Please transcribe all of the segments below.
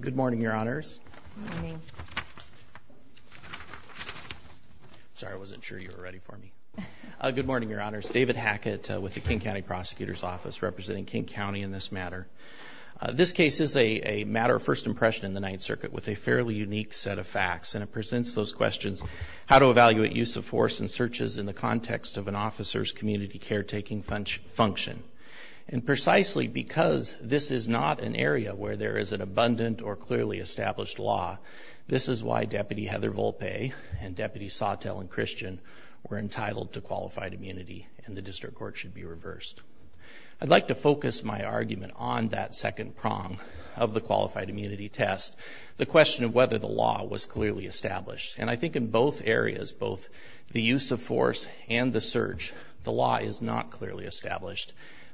Good morning, Your Honors. Good morning. Sorry, I wasn't sure you were ready for me. Good morning, Your Honors. David Hackett with the King County Prosecutor's Office, representing King County in this matter. This case is a matter of first impression in the Ninth Circuit with a fairly unique set of facts, and it presents those questions, how to evaluate use of force and searches in the context of an officer's community caretaking function. And precisely because this is not an area where there is an abundant or clearly established law, this is why Deputy Heather Volpe and Deputy Sawtelle and Christian were entitled to qualified immunity, and the district court should be reversed. I'd like to focus my argument on that second prong of the qualified immunity test, the question of whether the law was clearly established. And I think in both areas, both the use of force and the search, the law is not clearly established,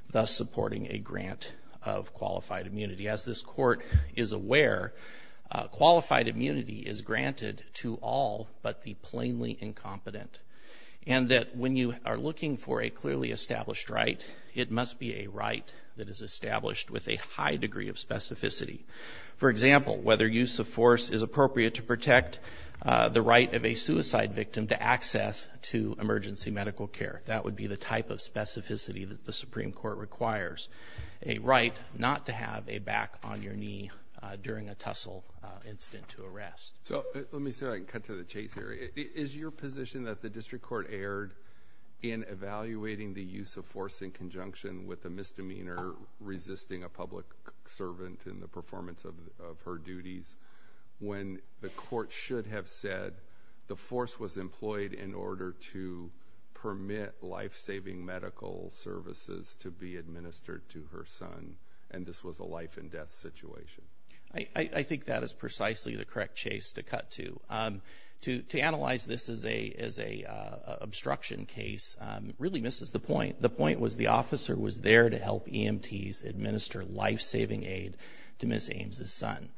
thus supporting a grant of qualified immunity. As this court is aware, qualified immunity is granted to all but the plainly incompetent, and that when you are looking for a clearly established right, it must be a right that is established with a high degree of specificity. For example, whether use of force is appropriate to protect the right of a suicide victim to access to emergency medical care. That would be the type of specificity that the Supreme Court requires, a right not to have a back on your knee during a tussle incident to arrest. Let me see if I can cut to the chase here. Is your position that the district court erred in evaluating the use of force in conjunction with a misdemeanor resisting a public servant in the performance of her duties when the court should have said that the force was employed in order to permit life-saving medical services to be administered to her son and this was a life-and-death situation? I think that is precisely the correct chase to cut to. To analyze this as an obstruction case really misses the point. The point was the officer was there to help EMTs administer life-saving aid to Ms. Ames' son.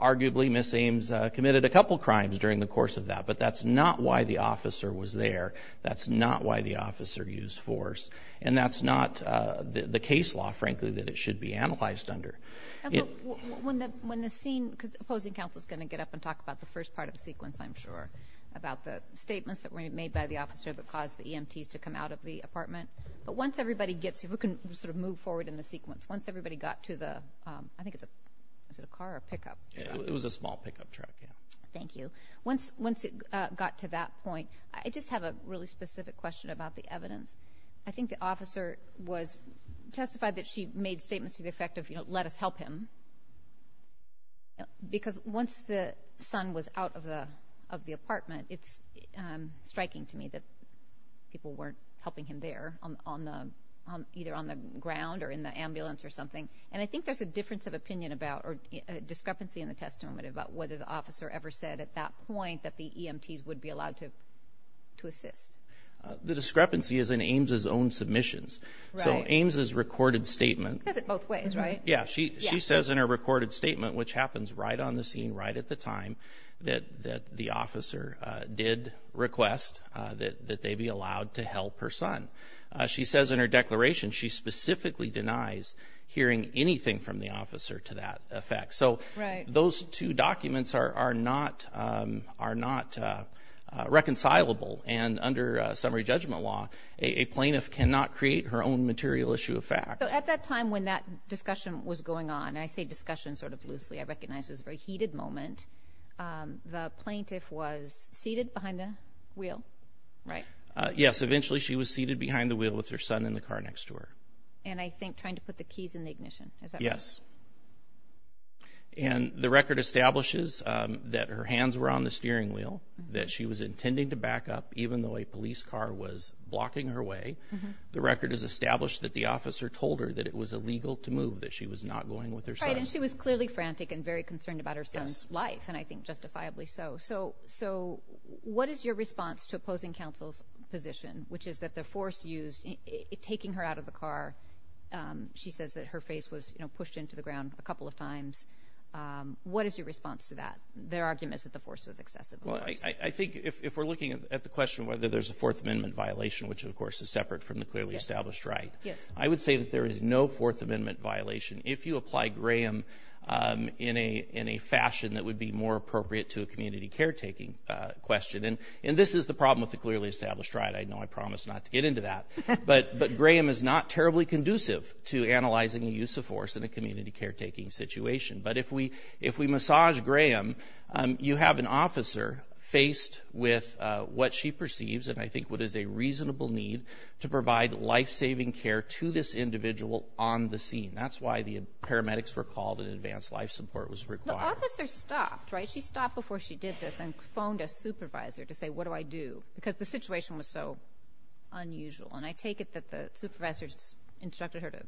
Arguably, Ms. Ames committed a couple crimes during the course of that, but that's not why the officer was there. That's not why the officer used force, and that's not the case law, frankly, that it should be analyzed under. When the scene, because the opposing counsel is going to get up and talk about the first part of the sequence, I'm sure, about the statements that were made by the officer that caused the EMTs to come out of the apartment. But once everybody gets here, we can sort of move forward in the sequence. Once everybody got to the, I think it's a car or a pickup truck? It was a small pickup truck, yeah. Thank you. Once it got to that point, I just have a really specific question about the evidence. I think the officer testified that she made statements to the effect of, you know, let us help him. Because once the son was out of the apartment, it's striking to me that people weren't helping him there, either on the ground or in the ambulance or something. And I think there's a difference of opinion about or discrepancy in the testimony about whether the officer ever said at that point that the EMTs would be allowed to assist. The discrepancy is in Ames' own submissions. Right. So Ames' recorded statement. She says it both ways, right? Yeah, she says in her recorded statement, which happens right on the scene, right at the time, that the officer did request that they be allowed to help her son. She says in her declaration she specifically denies hearing anything from the officer to that effect. Right. So those two documents are not reconcilable. And under summary judgment law, a plaintiff cannot create her own material issue of fact. So at that time when that discussion was going on, and I say discussion sort of loosely, I recognize it was a very heated moment, the plaintiff was seated behind the wheel, right? Yes, eventually she was seated behind the wheel with her son in the car next to her. And I think trying to put the keys in the ignition, is that right? Yes. And the record establishes that her hands were on the steering wheel, that she was intending to back up even though a police car was blocking her way. The record has established that the officer told her that it was illegal to move, that she was not going with her son. And she was clearly frantic and very concerned about her son's life, and I think justifiably so. So what is your response to opposing counsel's position, which is that the force used in taking her out of the car, she says that her face was pushed into the ground a couple of times. What is your response to that? Their argument is that the force was excessive. Well, I think if we're looking at the question whether there's a Fourth Amendment violation, which of course is separate from the clearly established right, I would say that there is no Fourth Amendment violation. If you apply Graham in a fashion that would be more appropriate to a community caretaking question, and this is the problem with the clearly established right. I know I promised not to get into that. But Graham is not terribly conducive to analyzing the use of force in a community caretaking situation. But if we massage Graham, you have an officer faced with what she perceives, and I think what is a reasonable need, to provide life-saving care to this individual on the scene. That's why the paramedics were called and advanced life support was required. The officer stopped, right? She stopped before she did this and phoned a supervisor to say, what do I do, because the situation was so unusual. And I take it that the supervisor instructed her to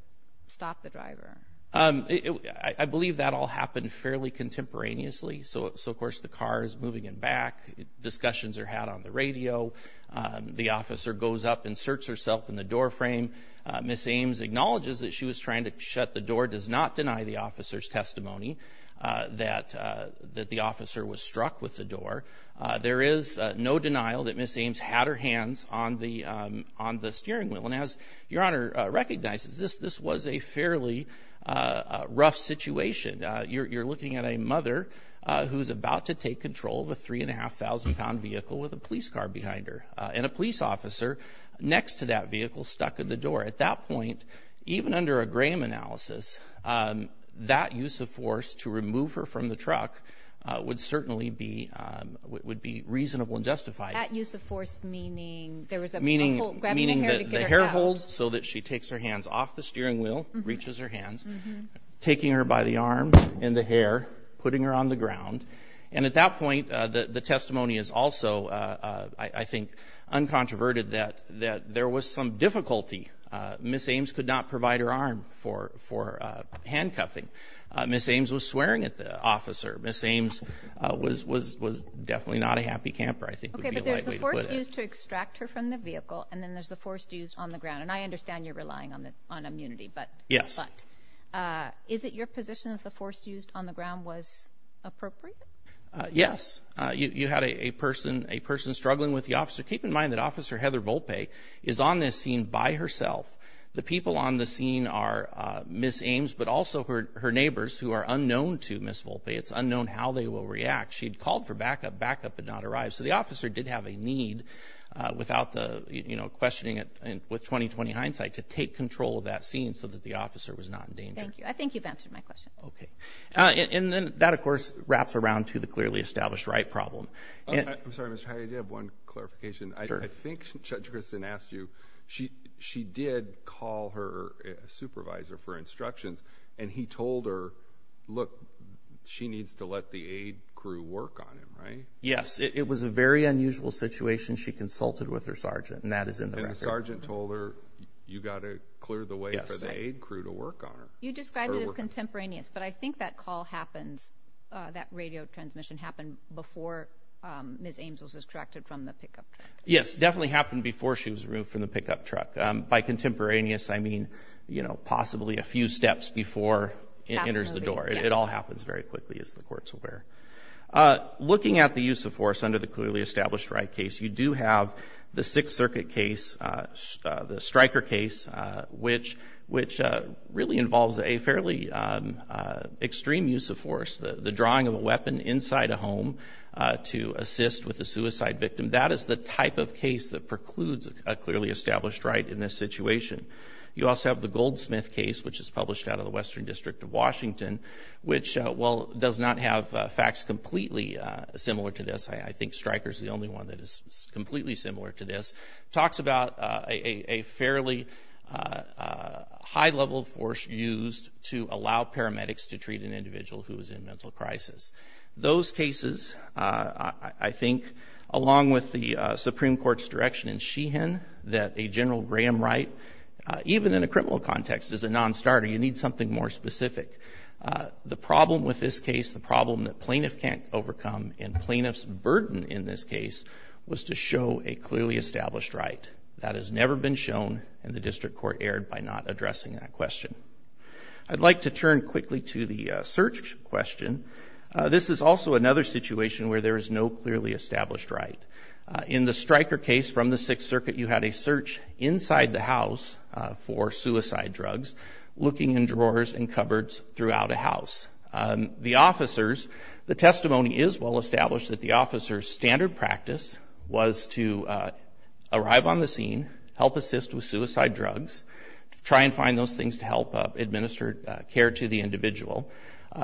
stop the driver. I believe that all happened fairly contemporaneously. So, of course, the car is moving it back. Discussions are had on the radio. The officer goes up and searches herself in the doorframe. Ms. Ames acknowledges that she was trying to shut the door, does not deny the officer's testimony that the officer was struck with the door. There is no denial that Ms. Ames had her hands on the steering wheel. And as Your Honor recognizes, this was a fairly rough situation. You're looking at a mother who's about to take control of a 3,500-pound vehicle with a police car behind her. And a police officer next to that vehicle stuck in the door. At that point, even under a Graham analysis, that use of force to remove her from the truck would certainly be reasonable and justified. That use of force meaning there was a pull, grabbing the hair to get her out. Meaning the hair hold so that she takes her hands off the steering wheel, reaches her hands, taking her by the arm and the hair, putting her on the ground. And at that point, the testimony is also, I think, uncontroverted that there was some difficulty. Ms. Ames could not provide her arm for handcuffing. Ms. Ames was swearing at the officer. Ms. Ames was definitely not a happy camper, I think would be a light way to put it. Okay, but there's the force used to extract her from the vehicle, and then there's the force used on the ground. And I understand you're relying on immunity. Yes. But is it your position that the force used on the ground was appropriate? Yes. You had a person struggling with the officer. Keep in mind that Officer Heather Volpe is on this scene by herself. The people on the scene are Ms. Ames, but also her neighbors, who are unknown to Ms. Volpe. It's unknown how they will react. She had called for backup. Backup had not arrived. So the officer did have a need, without questioning it with 20-20 hindsight, to take control of that scene so that the officer was not in danger. Thank you. I think you've answered my question. Okay. And then that, of course, wraps around to the clearly established right problem. I'm sorry, Mr. Hyatt. I do have one clarification. Sure. I think Judge Grissin asked you, she did call her supervisor for instructions, and he told her, look, she needs to let the aid crew work on him, right? Yes. It was a very unusual situation. She consulted with her sergeant, and that is in the record. The sergeant told her, you've got to clear the way for the aid crew to work on her. You described it as contemporaneous, but I think that call happens, that radio transmission happened before Ms. Ames was extracted from the pickup truck. Yes, it definitely happened before she was removed from the pickup truck. By contemporaneous, I mean, you know, possibly a few steps before it enters the door. It all happens very quickly, as the courts are aware. Looking at the use of force under the clearly established right case, you do have the Sixth Circuit case, the Stryker case, which really involves a fairly extreme use of force, the drawing of a weapon inside a home to assist with a suicide victim. That is the type of case that precludes a clearly established right in this situation. You also have the Goldsmith case, which is published out of the Western District of Washington, which, while it does not have facts completely similar to this, I think Stryker is the only one that is completely similar to this, talks about a fairly high-level force used to allow paramedics to treat an individual who is in mental crisis. Those cases, I think, along with the Supreme Court's direction in Sheehan that a general gram right, even in a criminal context, is a nonstarter. You need something more specific. The problem with this case, the problem that plaintiffs can't overcome and plaintiffs' burden in this case was to show a clearly established right. That has never been shown, and the District Court erred by not addressing that question. I'd like to turn quickly to the search question. This is also another situation where there is no clearly established right. In the Stryker case from the Sixth Circuit, you had a search inside the house for suicide drugs, looking in drawers and cupboards throughout a house. The officers, the testimony is well established that the officers' standard practice was to arrive on the scene, help assist with suicide drugs, try and find those things to help administer care to the individual.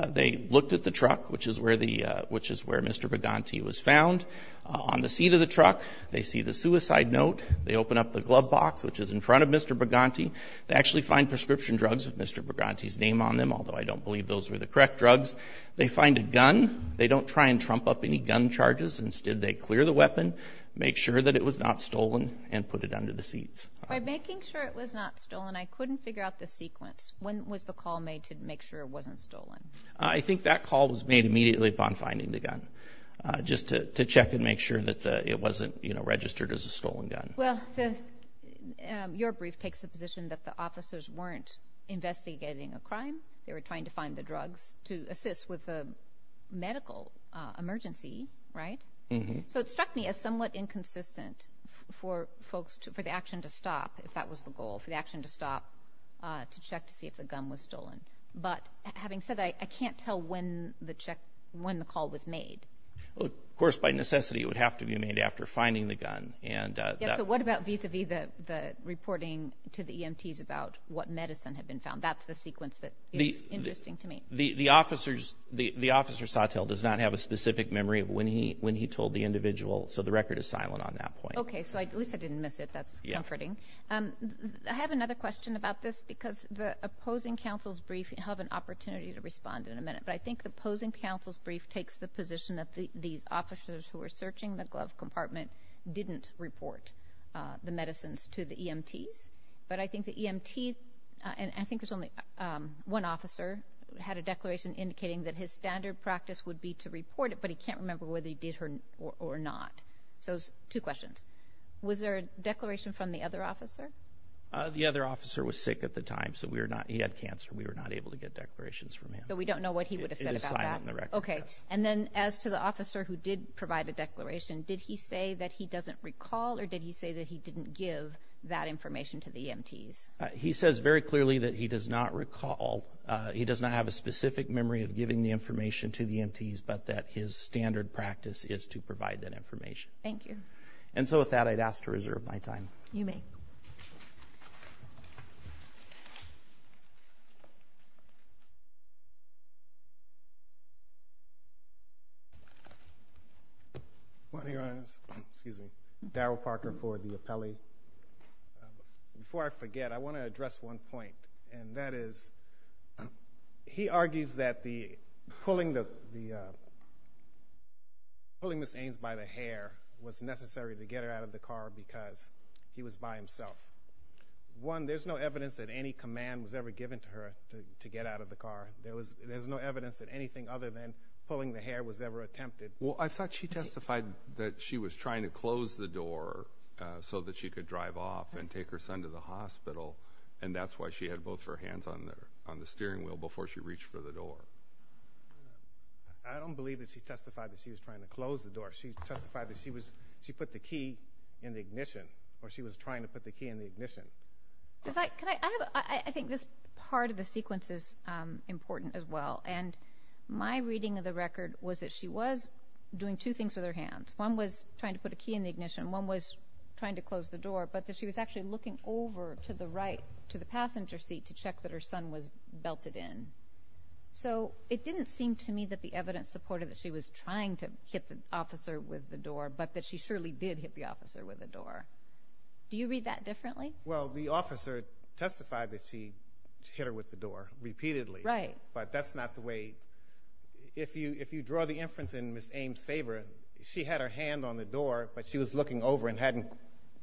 They looked at the truck, which is where Mr. Bugante was found. On the seat of the truck, they see the suicide note. They open up the glove box, which is in front of Mr. Bugante. They actually find prescription drugs with Mr. Bugante's name on them, although I don't believe those were the correct drugs. They find a gun. They don't try and trump up any gun charges. Instead, they clear the weapon, make sure that it was not stolen, and put it under the seats. By making sure it was not stolen, I couldn't figure out the sequence. When was the call made to make sure it wasn't stolen? I think that call was made immediately upon finding the gun, just to check and make sure that it wasn't registered as a stolen gun. Well, your brief takes the position that the officers weren't investigating a crime. They were trying to find the drugs to assist with a medical emergency, right? So it struck me as somewhat inconsistent for the action to stop, if that was the goal, for the action to stop to check to see if the gun was stolen. But having said that, I can't tell when the call was made. Of course, by necessity, it would have to be made after finding the gun. Yes, but what about vis-à-vis the reporting to the EMTs about what medicine had been found? That's the sequence that is interesting to me. The officer Sawtelle does not have a specific memory of when he told the individual, so the record is silent on that point. Okay, so at least I didn't miss it. That's comforting. I have another question about this because the opposing counsel's brief, you'll have an opportunity to respond in a minute, but I think the opposing counsel's brief takes the position that these officers who were searching the glove compartment didn't report the medicines to the EMTs. But I think the EMTs, and I think there's only one officer, had a declaration indicating that his standard practice would be to report it, but he can't remember whether he did or not. So two questions. Was there a declaration from the other officer? The other officer was sick at the time, so he had cancer. We were not able to get declarations from him. So we don't know what he would have said about that? It is silent on the record, yes. Okay, and then as to the officer who did provide a declaration, did he say that he doesn't recall or did he say that he didn't give that information to the EMTs? He says very clearly that he does not recall. He does not have a specific memory of giving the information to the EMTs, but that his standard practice is to provide that information. Thank you. And so with that, I'd ask to reserve my time. You may. Well, Your Honors, Darrell Parker for the appellee. Before I forget, I want to address one point, and that is he argues that pulling Ms. Ames by the hair was necessary to get her out of the car because he was by himself. One, there's no evidence that any command was ever given to her to get out of the car. There's no evidence that anything other than pulling the hair was ever attempted. Well, I thought she testified that she was trying to close the door so that she could drive off and take her son to the hospital, and that's why she had both her hands on the steering wheel before she reached for the door. I don't believe that she testified that she was trying to close the door. She testified that she put the key in the ignition, or she was trying to put the key in the ignition. I think this part of the sequence is important as well, and my reading of the record was that she was doing two things with her hand. One was trying to put a key in the ignition, and one was trying to close the door, but that she was actually looking over to the passenger seat to check that her son was belted in. So it didn't seem to me that the evidence supported that she was trying to hit the officer with the door, but that she surely did hit the officer with the door. Do you read that differently? Well, the officer testified that she hit her with the door repeatedly. Right. But that's not the way. If you draw the inference in Ms. Ames' favor, she had her hand on the door, but she was looking over and hadn't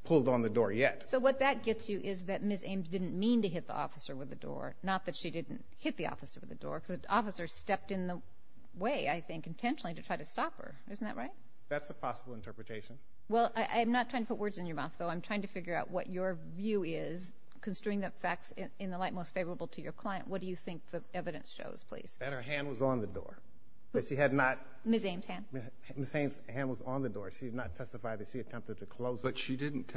pulled on the door yet. So what that gets you is that Ms. Ames didn't mean to hit the officer with the door, not that she didn't hit the officer with the door, because the officer stepped in the way, I think, intentionally to try to stop her. Isn't that right? That's a possible interpretation. Well, I'm not trying to put words in your mouth, though. I'm trying to figure out what your view is considering the facts in the light most favorable to your client. What do you think the evidence shows, please? That her hand was on the door. Ms. Ames' hand? Ms. Ames' hand was on the door. She did not testify that she attempted to close it. But she didn't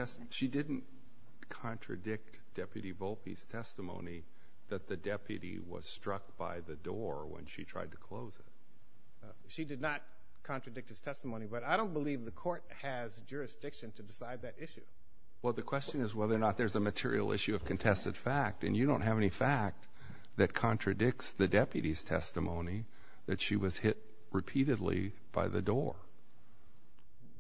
contradict Deputy Volpe's testimony that the deputy was struck by the door when she tried to close it. She did not contradict his testimony, but I don't believe the court has jurisdiction to decide that issue. Well, the question is whether or not there's a material issue of contested fact, and you don't have any fact that contradicts the deputy's testimony that she was hit repeatedly by the door.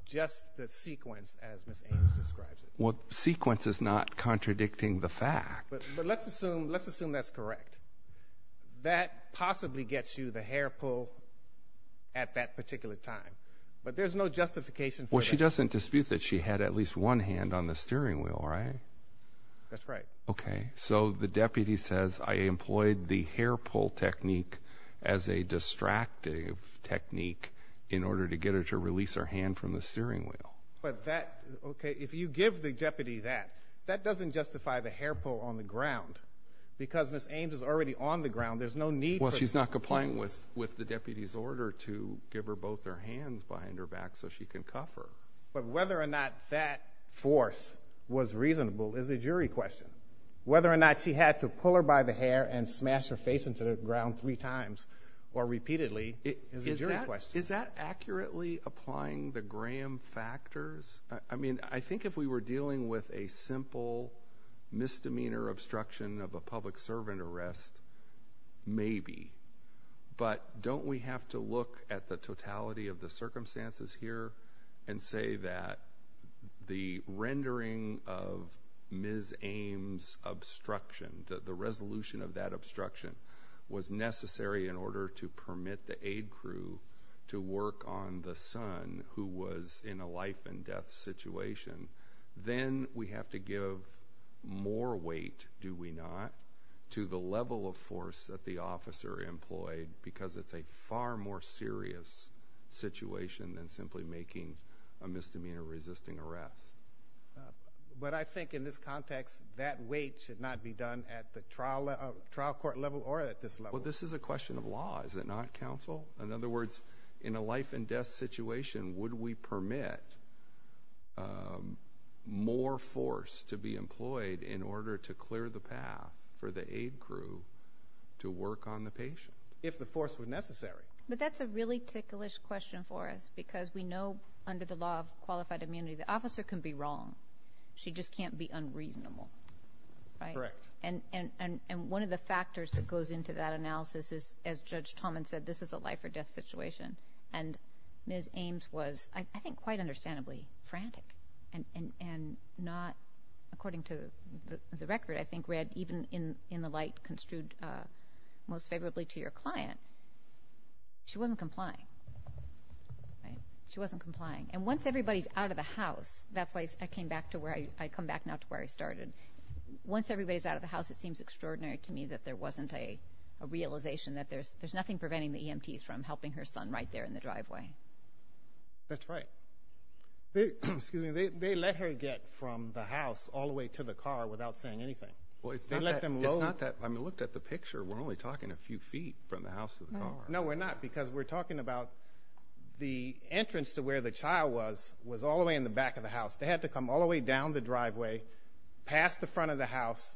Just the sequence, as Ms. Ames describes it. Well, the sequence is not contradicting the fact. But let's assume that's correct. That possibly gets you the hair pull at that particular time. But there's no justification for that. Well, she doesn't dispute that she had at least one hand on the steering wheel, right? That's right. Okay. So the deputy says, I employed the hair pull technique as a distractive technique in order to get her to release her hand from the steering wheel. But that, okay, if you give the deputy that, that doesn't justify the hair pull on the ground because Ms. Ames is already on the ground. There's no need for that. Well, she's not complying with the deputy's order to give her both her hands behind her back so she can cuff her. But whether or not that force was reasonable is a jury question. Whether or not she had to pull her by the hair and smash her face into the ground three times or repeatedly is a jury question. Is that accurately applying the Graham factors? I mean, I think if we were dealing with a simple misdemeanor obstruction of a public servant arrest, maybe. But don't we have to look at the totality of the circumstances here and say that the rendering of Ms. Ames' obstruction, the resolution of that obstruction, was necessary in order to permit the aid crew to work on the son who was in a life-and-death situation, then we have to give more weight, do we not, to the level of force that the officer employed because it's a far more serious situation than simply making a misdemeanor resisting arrest. But I think in this context that weight should not be done at the trial court level or at this level. Well, this is a question of law, is it not, counsel? In other words, in a life-and-death situation, would we permit more force to be employed in order to clear the path for the aid crew to work on the patient? If the force was necessary. But that's a really ticklish question for us because we know under the law of qualified immunity the officer can be wrong. She just can't be unreasonable, right? Correct. And one of the factors that goes into that analysis is, as Judge Tomlin said, this is a life-or-death situation, and Ms. Ames was, I think, quite understandably frantic and not, according to the record I think read, even in the light construed most favorably to your client, she wasn't complying. She wasn't complying. And once everybody's out of the house, that's why I came back to where I started. Once everybody's out of the house, it seems extraordinary to me that there wasn't a realization that there's nothing preventing the EMTs from helping her son right there in the driveway. That's right. They let her get from the house all the way to the car without saying anything. It's not that. I mean, look at the picture. We're only talking a few feet from the house to the car. No, we're not because we're talking about the entrance to where the child was was all the way in the back of the house. They had to come all the way down the driveway, past the front of the house,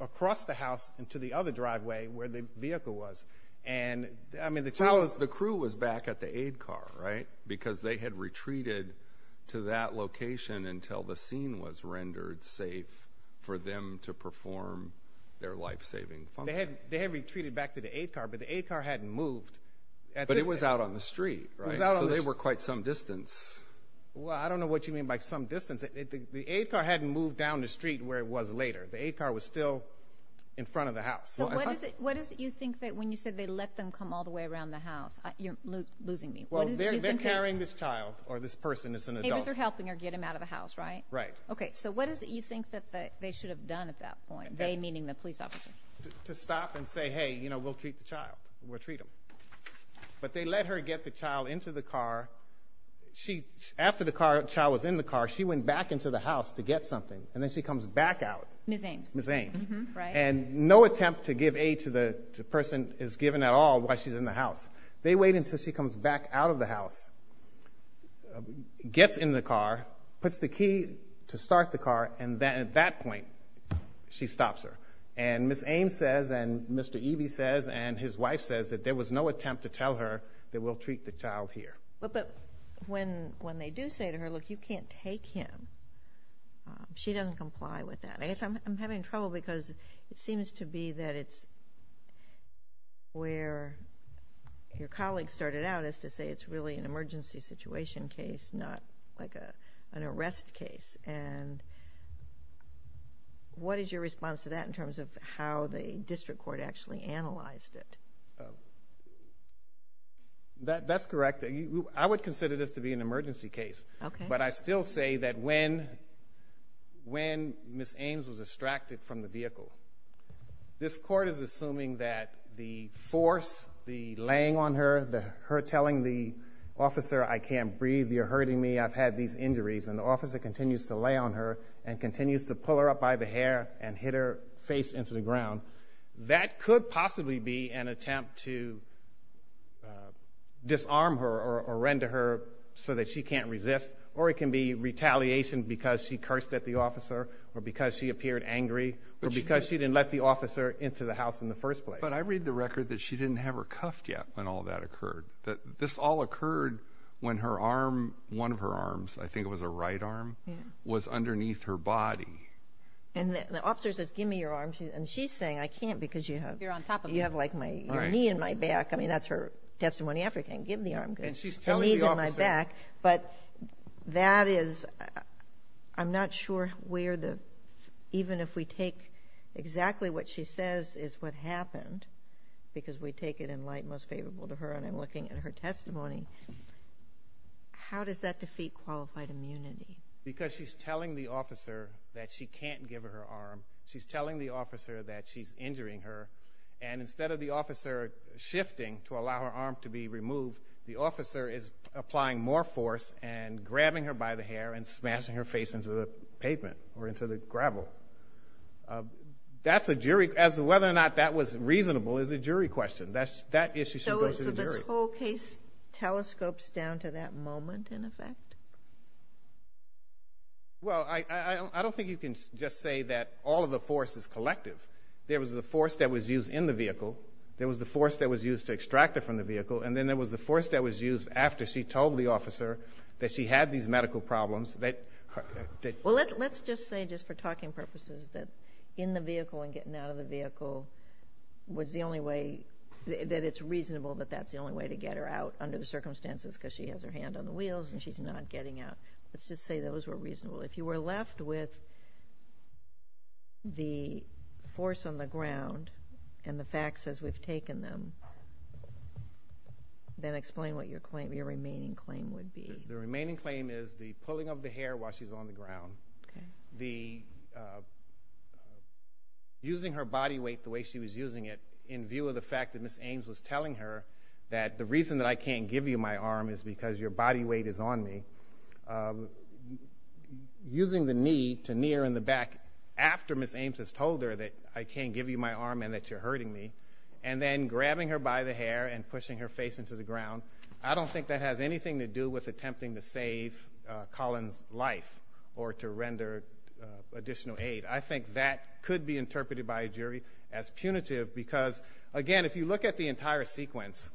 across the house, and to the other driveway where the vehicle was. The crew was back at the aid car, right, because they had retreated to that location until the scene was rendered safe for them to perform their life-saving function. They had retreated back to the aid car, but the aid car hadn't moved. But it was out on the street, right? It was out on the street. So they were quite some distance. Well, I don't know what you mean by some distance. The aid car hadn't moved down the street where it was later. The aid car was still in front of the house. So what is it you think that when you said they let them come all the way around the house? You're losing me. Well, they're carrying this child or this person that's an adult. They're helping her get him out of the house, right? Right. Okay, so what is it you think that they should have done at that point, they meaning the police officer? To stop and say, hey, you know, we'll treat the child. We'll treat him. But they let her get the child into the car. After the child was in the car, she went back into the house to get something, and then she comes back out. Ms. Ames. Ms. Ames. Right. And no attempt to give aid to the person is given at all while she's in the house. They wait until she comes back out of the house, gets in the car, puts the key to start the car, and at that point she stops her. And Ms. Ames says, and Mr. Eby says, and his wife says, that there was no attempt to tell her that we'll treat the child here. But when they do say to her, look, you can't take him, she doesn't comply with that. I guess I'm having trouble because it seems to be that it's where your colleague started out as to say it's really an emergency situation case, not like an arrest case. And what is your response to that in terms of how the district court actually analyzed it? That's correct. I would consider this to be an emergency case. Okay. But I still say that when Ms. Ames was extracted from the vehicle, this court is assuming that the force, the laying on her, her telling the officer, I can't breathe, you're hurting me, I've had these injuries, and the officer continues to lay on her and continues to pull her up by the hair and hit her face into the ground. That could possibly be an attempt to disarm her or render her so that she can't resist, or it can be retaliation because she cursed at the officer or because she appeared angry or because she didn't let the officer into the house in the first place. But I read the record that she didn't have her cuffed yet when all that occurred. This all occurred when her arm, one of her arms, I think it was a right arm, was underneath her body. And the officer says, Give me your arm. And she's saying, I can't because you have your knee in my back. I mean, that's her testimony after, give me the arm because the knee's in my back. But that is, I'm not sure where the, even if we take exactly what she says is what happened, because we take it in light most favorable to her, and I'm looking at her testimony, how does that defeat qualified immunity? Because she's telling the officer that she can't give her arm. She's telling the officer that she's injuring her. And instead of the officer shifting to allow her arm to be removed, the officer is applying more force and grabbing her by the hair and smashing her face into the pavement or into the gravel. That's a jury, as to whether or not that was reasonable is a jury question. That issue should go to the jury. So this whole case telescopes down to that moment in effect? Well, I don't think you can just say that all of the force is collective. There was the force that was used in the vehicle. There was the force that was used to extract her from the vehicle. And then there was the force that was used after she told the officer that she had these medical problems. Well, let's just say, just for talking purposes, that in the vehicle and getting out of the vehicle was the only way that it's reasonable that that's the only way to get her out under the circumstances because she has her hand on the wheels and she's not getting out. Let's just say those were reasonable. If you were left with the force on the ground and the facts as we've taken them, then explain what your remaining claim would be. The remaining claim is the pulling of the hair while she's on the ground, using her body weight the way she was using it, in view of the fact that Ms. Ames was telling her that the reason that I can't give you my arm is because your body weight is on me, using the knee to knee her in the back after Ms. Ames has told her that I can't give you my arm and that you're hurting me, and then grabbing her by the hair and pushing her face into the ground. I don't think that has anything to do with attempting to save Colin's life or to render additional aid. I think that could be interpreted by a jury as punitive because, again, if you look at the entire sequence,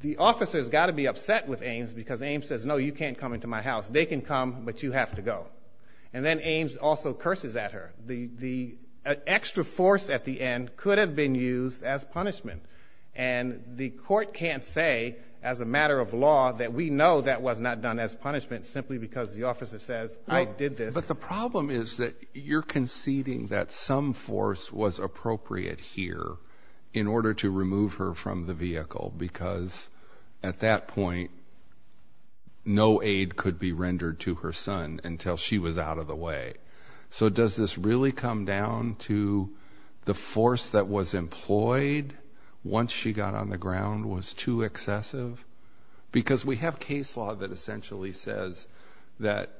the officer has got to be upset with Ames because Ames says, no, you can't come into my house. They can come, but you have to go. And then Ames also curses at her. The extra force at the end could have been used as punishment, and the court can't say as a matter of law that we know that was not done as punishment simply because the officer says, I did this. But the problem is that you're conceding that some force was appropriate here in order to remove her from the vehicle because at that point no aid could be rendered to her son until she was out of the way. So does this really come down to the force that was employed once she got on the ground was too excessive? Because we have case law that essentially says that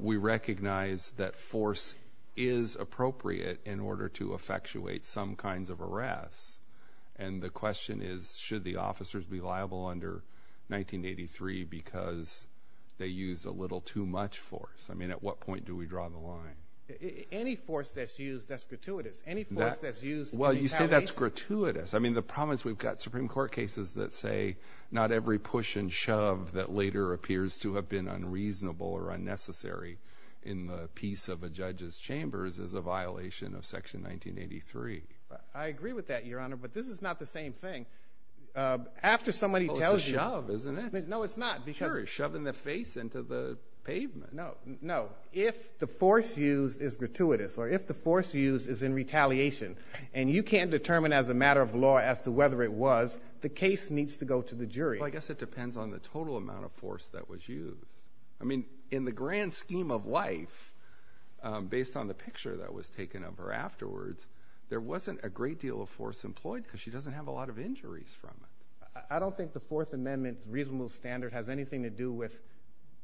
we recognize that force is appropriate in order to effectuate some kinds of arrests. And the question is, should the officers be liable under 1983 because they used a little too much force? I mean, at what point do we draw the line? Any force that's used, that's gratuitous. Well, you say that's gratuitous. I mean, the problem is we've got Supreme Court cases that say not every push and shove that later appears to have been unreasonable or unnecessary in the peace of a judge's chambers is a violation of Section 1983. I agree with that, Your Honor, but this is not the same thing. After somebody tells youó Well, it's a shove, isn't it? No, it's not. Sure, it's shoving the face into the pavement. No, no. If the force used is gratuitous or if the force used is in retaliation and you can't determine as a matter of law as to whether it was, the case needs to go to the jury. Well, I guess it depends on the total amount of force that was used. I mean, in the grand scheme of life, based on the picture that was taken of her afterwards, there wasn't a great deal of force employed because she doesn't have a lot of injuries from it. I don't think the Fourth Amendment reasonable standard has anything to do with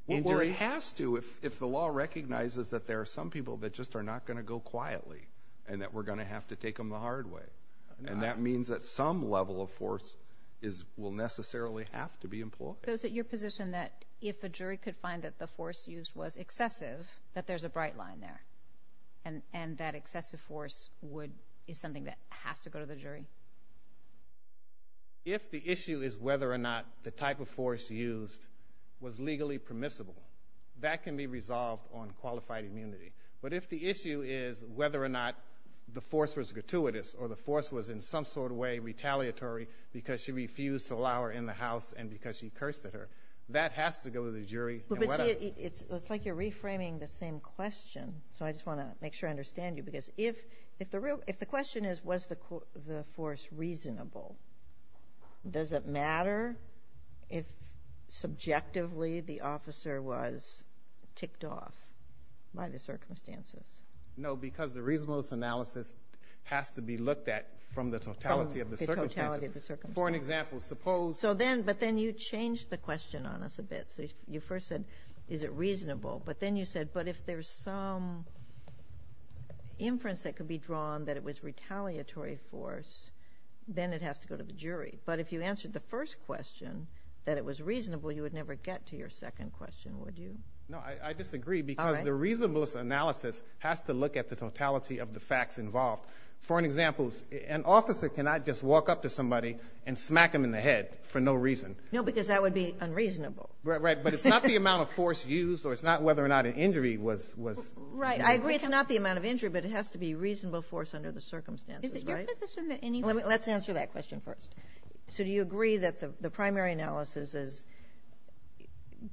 injury. Well, it has to if the law recognizes that there are some people that just are not going to go quietly and that we're going to have to take them the hard way. And that means that some level of force will necessarily have to be employed. So is it your position that if a jury could find that the force used was excessive, that there's a bright line there and that excessive force is something that has to go to the jury? If the issue is whether or not the type of force used was legally permissible, that can be resolved on qualified immunity. But if the issue is whether or not the force was gratuitous or the force was in some sort of way retaliatory because she refused to allow her in the house and because she cursed at her, that has to go to the jury. It looks like you're reframing the same question, so I just want to make sure I understand you. If the question is was the force reasonable, does it matter if subjectively the officer was ticked off by the circumstances? No, because the reasonableness analysis has to be looked at from the totality of the circumstances. From the totality of the circumstances. For an example, suppose— But then you changed the question on us a bit. You first said is it reasonable, but then you said, but if there's some inference that could be drawn that it was retaliatory force, then it has to go to the jury. But if you answered the first question that it was reasonable, you would never get to your second question, would you? No, I disagree because the reasonableness analysis has to look at the totality of the facts involved. For an example, an officer cannot just walk up to somebody and smack them in the head for no reason. No, because that would be unreasonable. Right, but it's not the amount of force used, or it's not whether or not an injury was— Right, I agree it's not the amount of injury, but it has to be reasonable force under the circumstances, right? Is it your position that any— Let's answer that question first. So do you agree that the primary analysis is,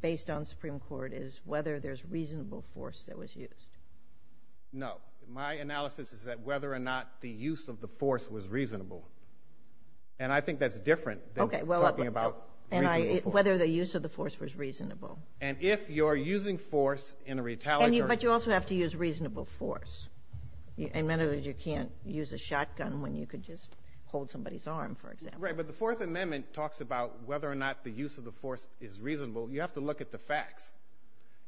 based on Supreme Court, is whether there's reasonable force that was used? No. My analysis is that whether or not the use of the force was reasonable. And I think that's different than talking about reasonable force. Whether the use of the force was reasonable. And if you're using force in a retaliatory— But you also have to use reasonable force. In other words, you can't use a shotgun when you could just hold somebody's arm, for example. Right, but the Fourth Amendment talks about whether or not the use of the force is reasonable. You have to look at the facts.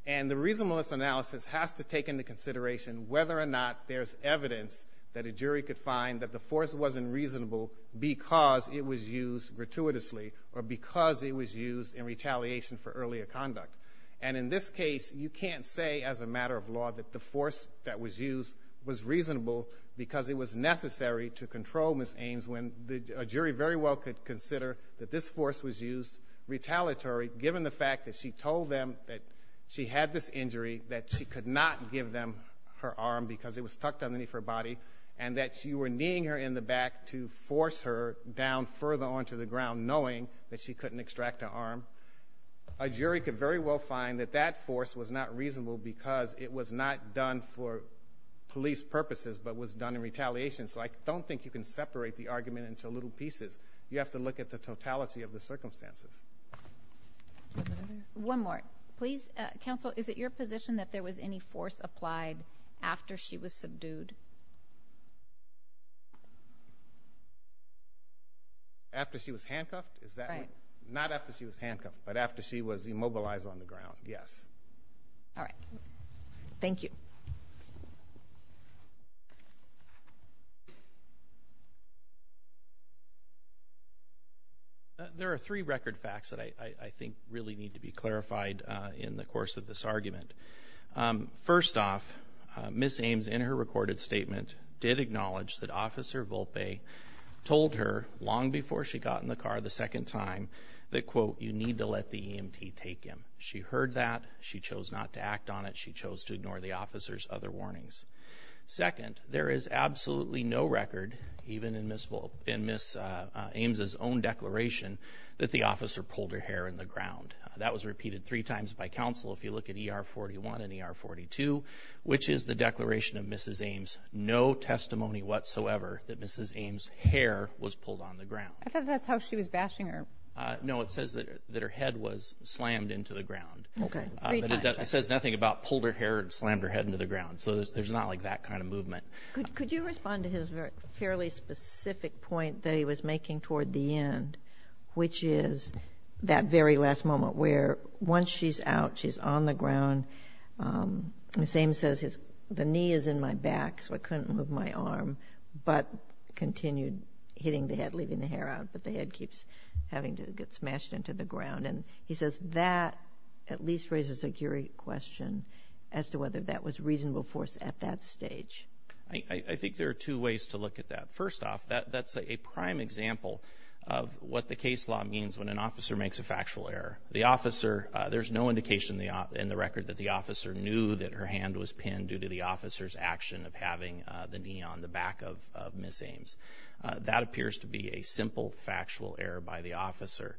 And the reasonableness analysis has to take into consideration whether or not there's evidence that a jury could find that the force wasn't reasonable because it was used gratuitously or because it was used in retaliation for earlier conduct. And in this case, you can't say as a matter of law that the force that was used was reasonable because it was necessary to control Ms. Ames when a jury very well could consider that this force was used retaliatory, given the fact that she told them that she had this injury, that she could not give them her arm because it was tucked underneath her body, and that you were kneeing her in the back to force her down further onto the ground knowing that she couldn't extract her arm. A jury could very well find that that force was not reasonable because it was not done for police purposes but was done in retaliation. So I don't think you can separate the argument into little pieces. You have to look at the totality of the circumstances. One more, please. Counsel, is it your position that there was any force applied after she was subdued? After she was handcuffed? Not after she was handcuffed, but after she was immobilized on the ground, yes. All right. Thank you. Thank you. There are three record facts that I think really need to be clarified in the course of this argument. First off, Ms. Ames, in her recorded statement, did acknowledge that Officer Volpe told her, long before she got in the car the second time, that, quote, you need to let the EMT take him. She heard that. She chose not to act on it. She chose to ignore the officer's other warnings. Second, there is absolutely no record, even in Ms. Ames' own declaration, that the officer pulled her hair in the ground. That was repeated three times by counsel. If you look at ER 41 and ER 42, which is the declaration of Ms. Ames, no testimony whatsoever that Ms. Ames' hair was pulled on the ground. I thought that's how she was bashing her. No, it says that her head was slammed into the ground. Okay. It says nothing about pulled her hair and slammed her head into the ground, so there's not like that kind of movement. Could you respond to his fairly specific point that he was making toward the end, which is that very last moment where once she's out, she's on the ground. Ms. Ames says, the knee is in my back, so I couldn't move my arm, but continued hitting the head, leaving the hair out, but the head keeps having to get smashed into the ground. He says that at least raises a curious question as to whether that was reasonable force at that stage. I think there are two ways to look at that. First off, that's a prime example of what the case law means when an officer makes a factual error. There's no indication in the record that the officer knew that her hand was pinned due to the officer's action of having the knee on the back of Ms. Ames. That appears to be a simple factual error by the officer.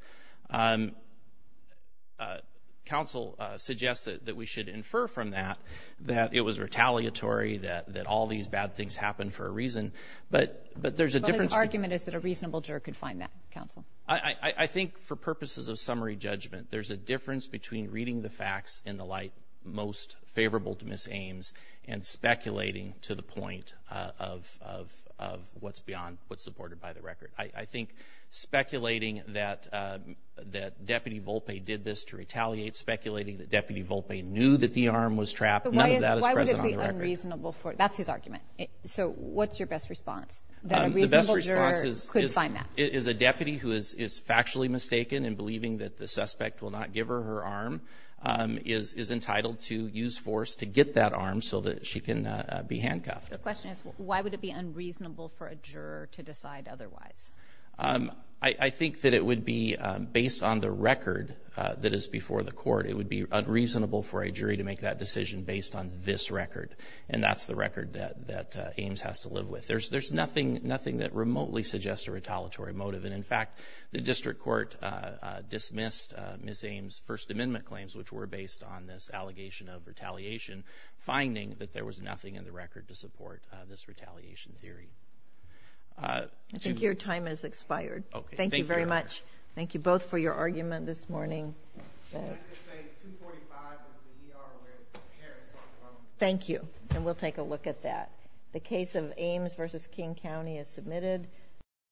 Counsel suggests that we should infer from that that it was retaliatory, that all these bad things happened for a reason, but there's a difference. But his argument is that a reasonable juror could find that, counsel. I think for purposes of summary judgment, there's a difference between reading the facts in the light most favorable to Ms. Ames and speculating to the point of what's supported by the record. I think speculating that Deputy Volpe did this to retaliate, speculating that Deputy Volpe knew that the arm was trapped, none of that is present on the record. That's his argument. So what's your best response, that a reasonable juror could find that? The best response is a deputy who is factually mistaken in believing that the suspect will not give her her arm is entitled to use force to get that arm so that she can be handcuffed. The question is, why would it be unreasonable for a juror to decide otherwise? I think that it would be, based on the record that is before the court, it would be unreasonable for a jury to make that decision based on this record, and that's the record that Ames has to live with. There's nothing that remotely suggests a retaliatory motive. In fact, the district court dismissed Ms. Ames' First Amendment claims, which were based on this allegation of retaliation, finding that there was nothing in the record to support this retaliation theory. I think your time has expired. Thank you very much. Thank you both for your argument this morning. Thank you, and we'll take a look at that. The case of Ames v. King County is submitted.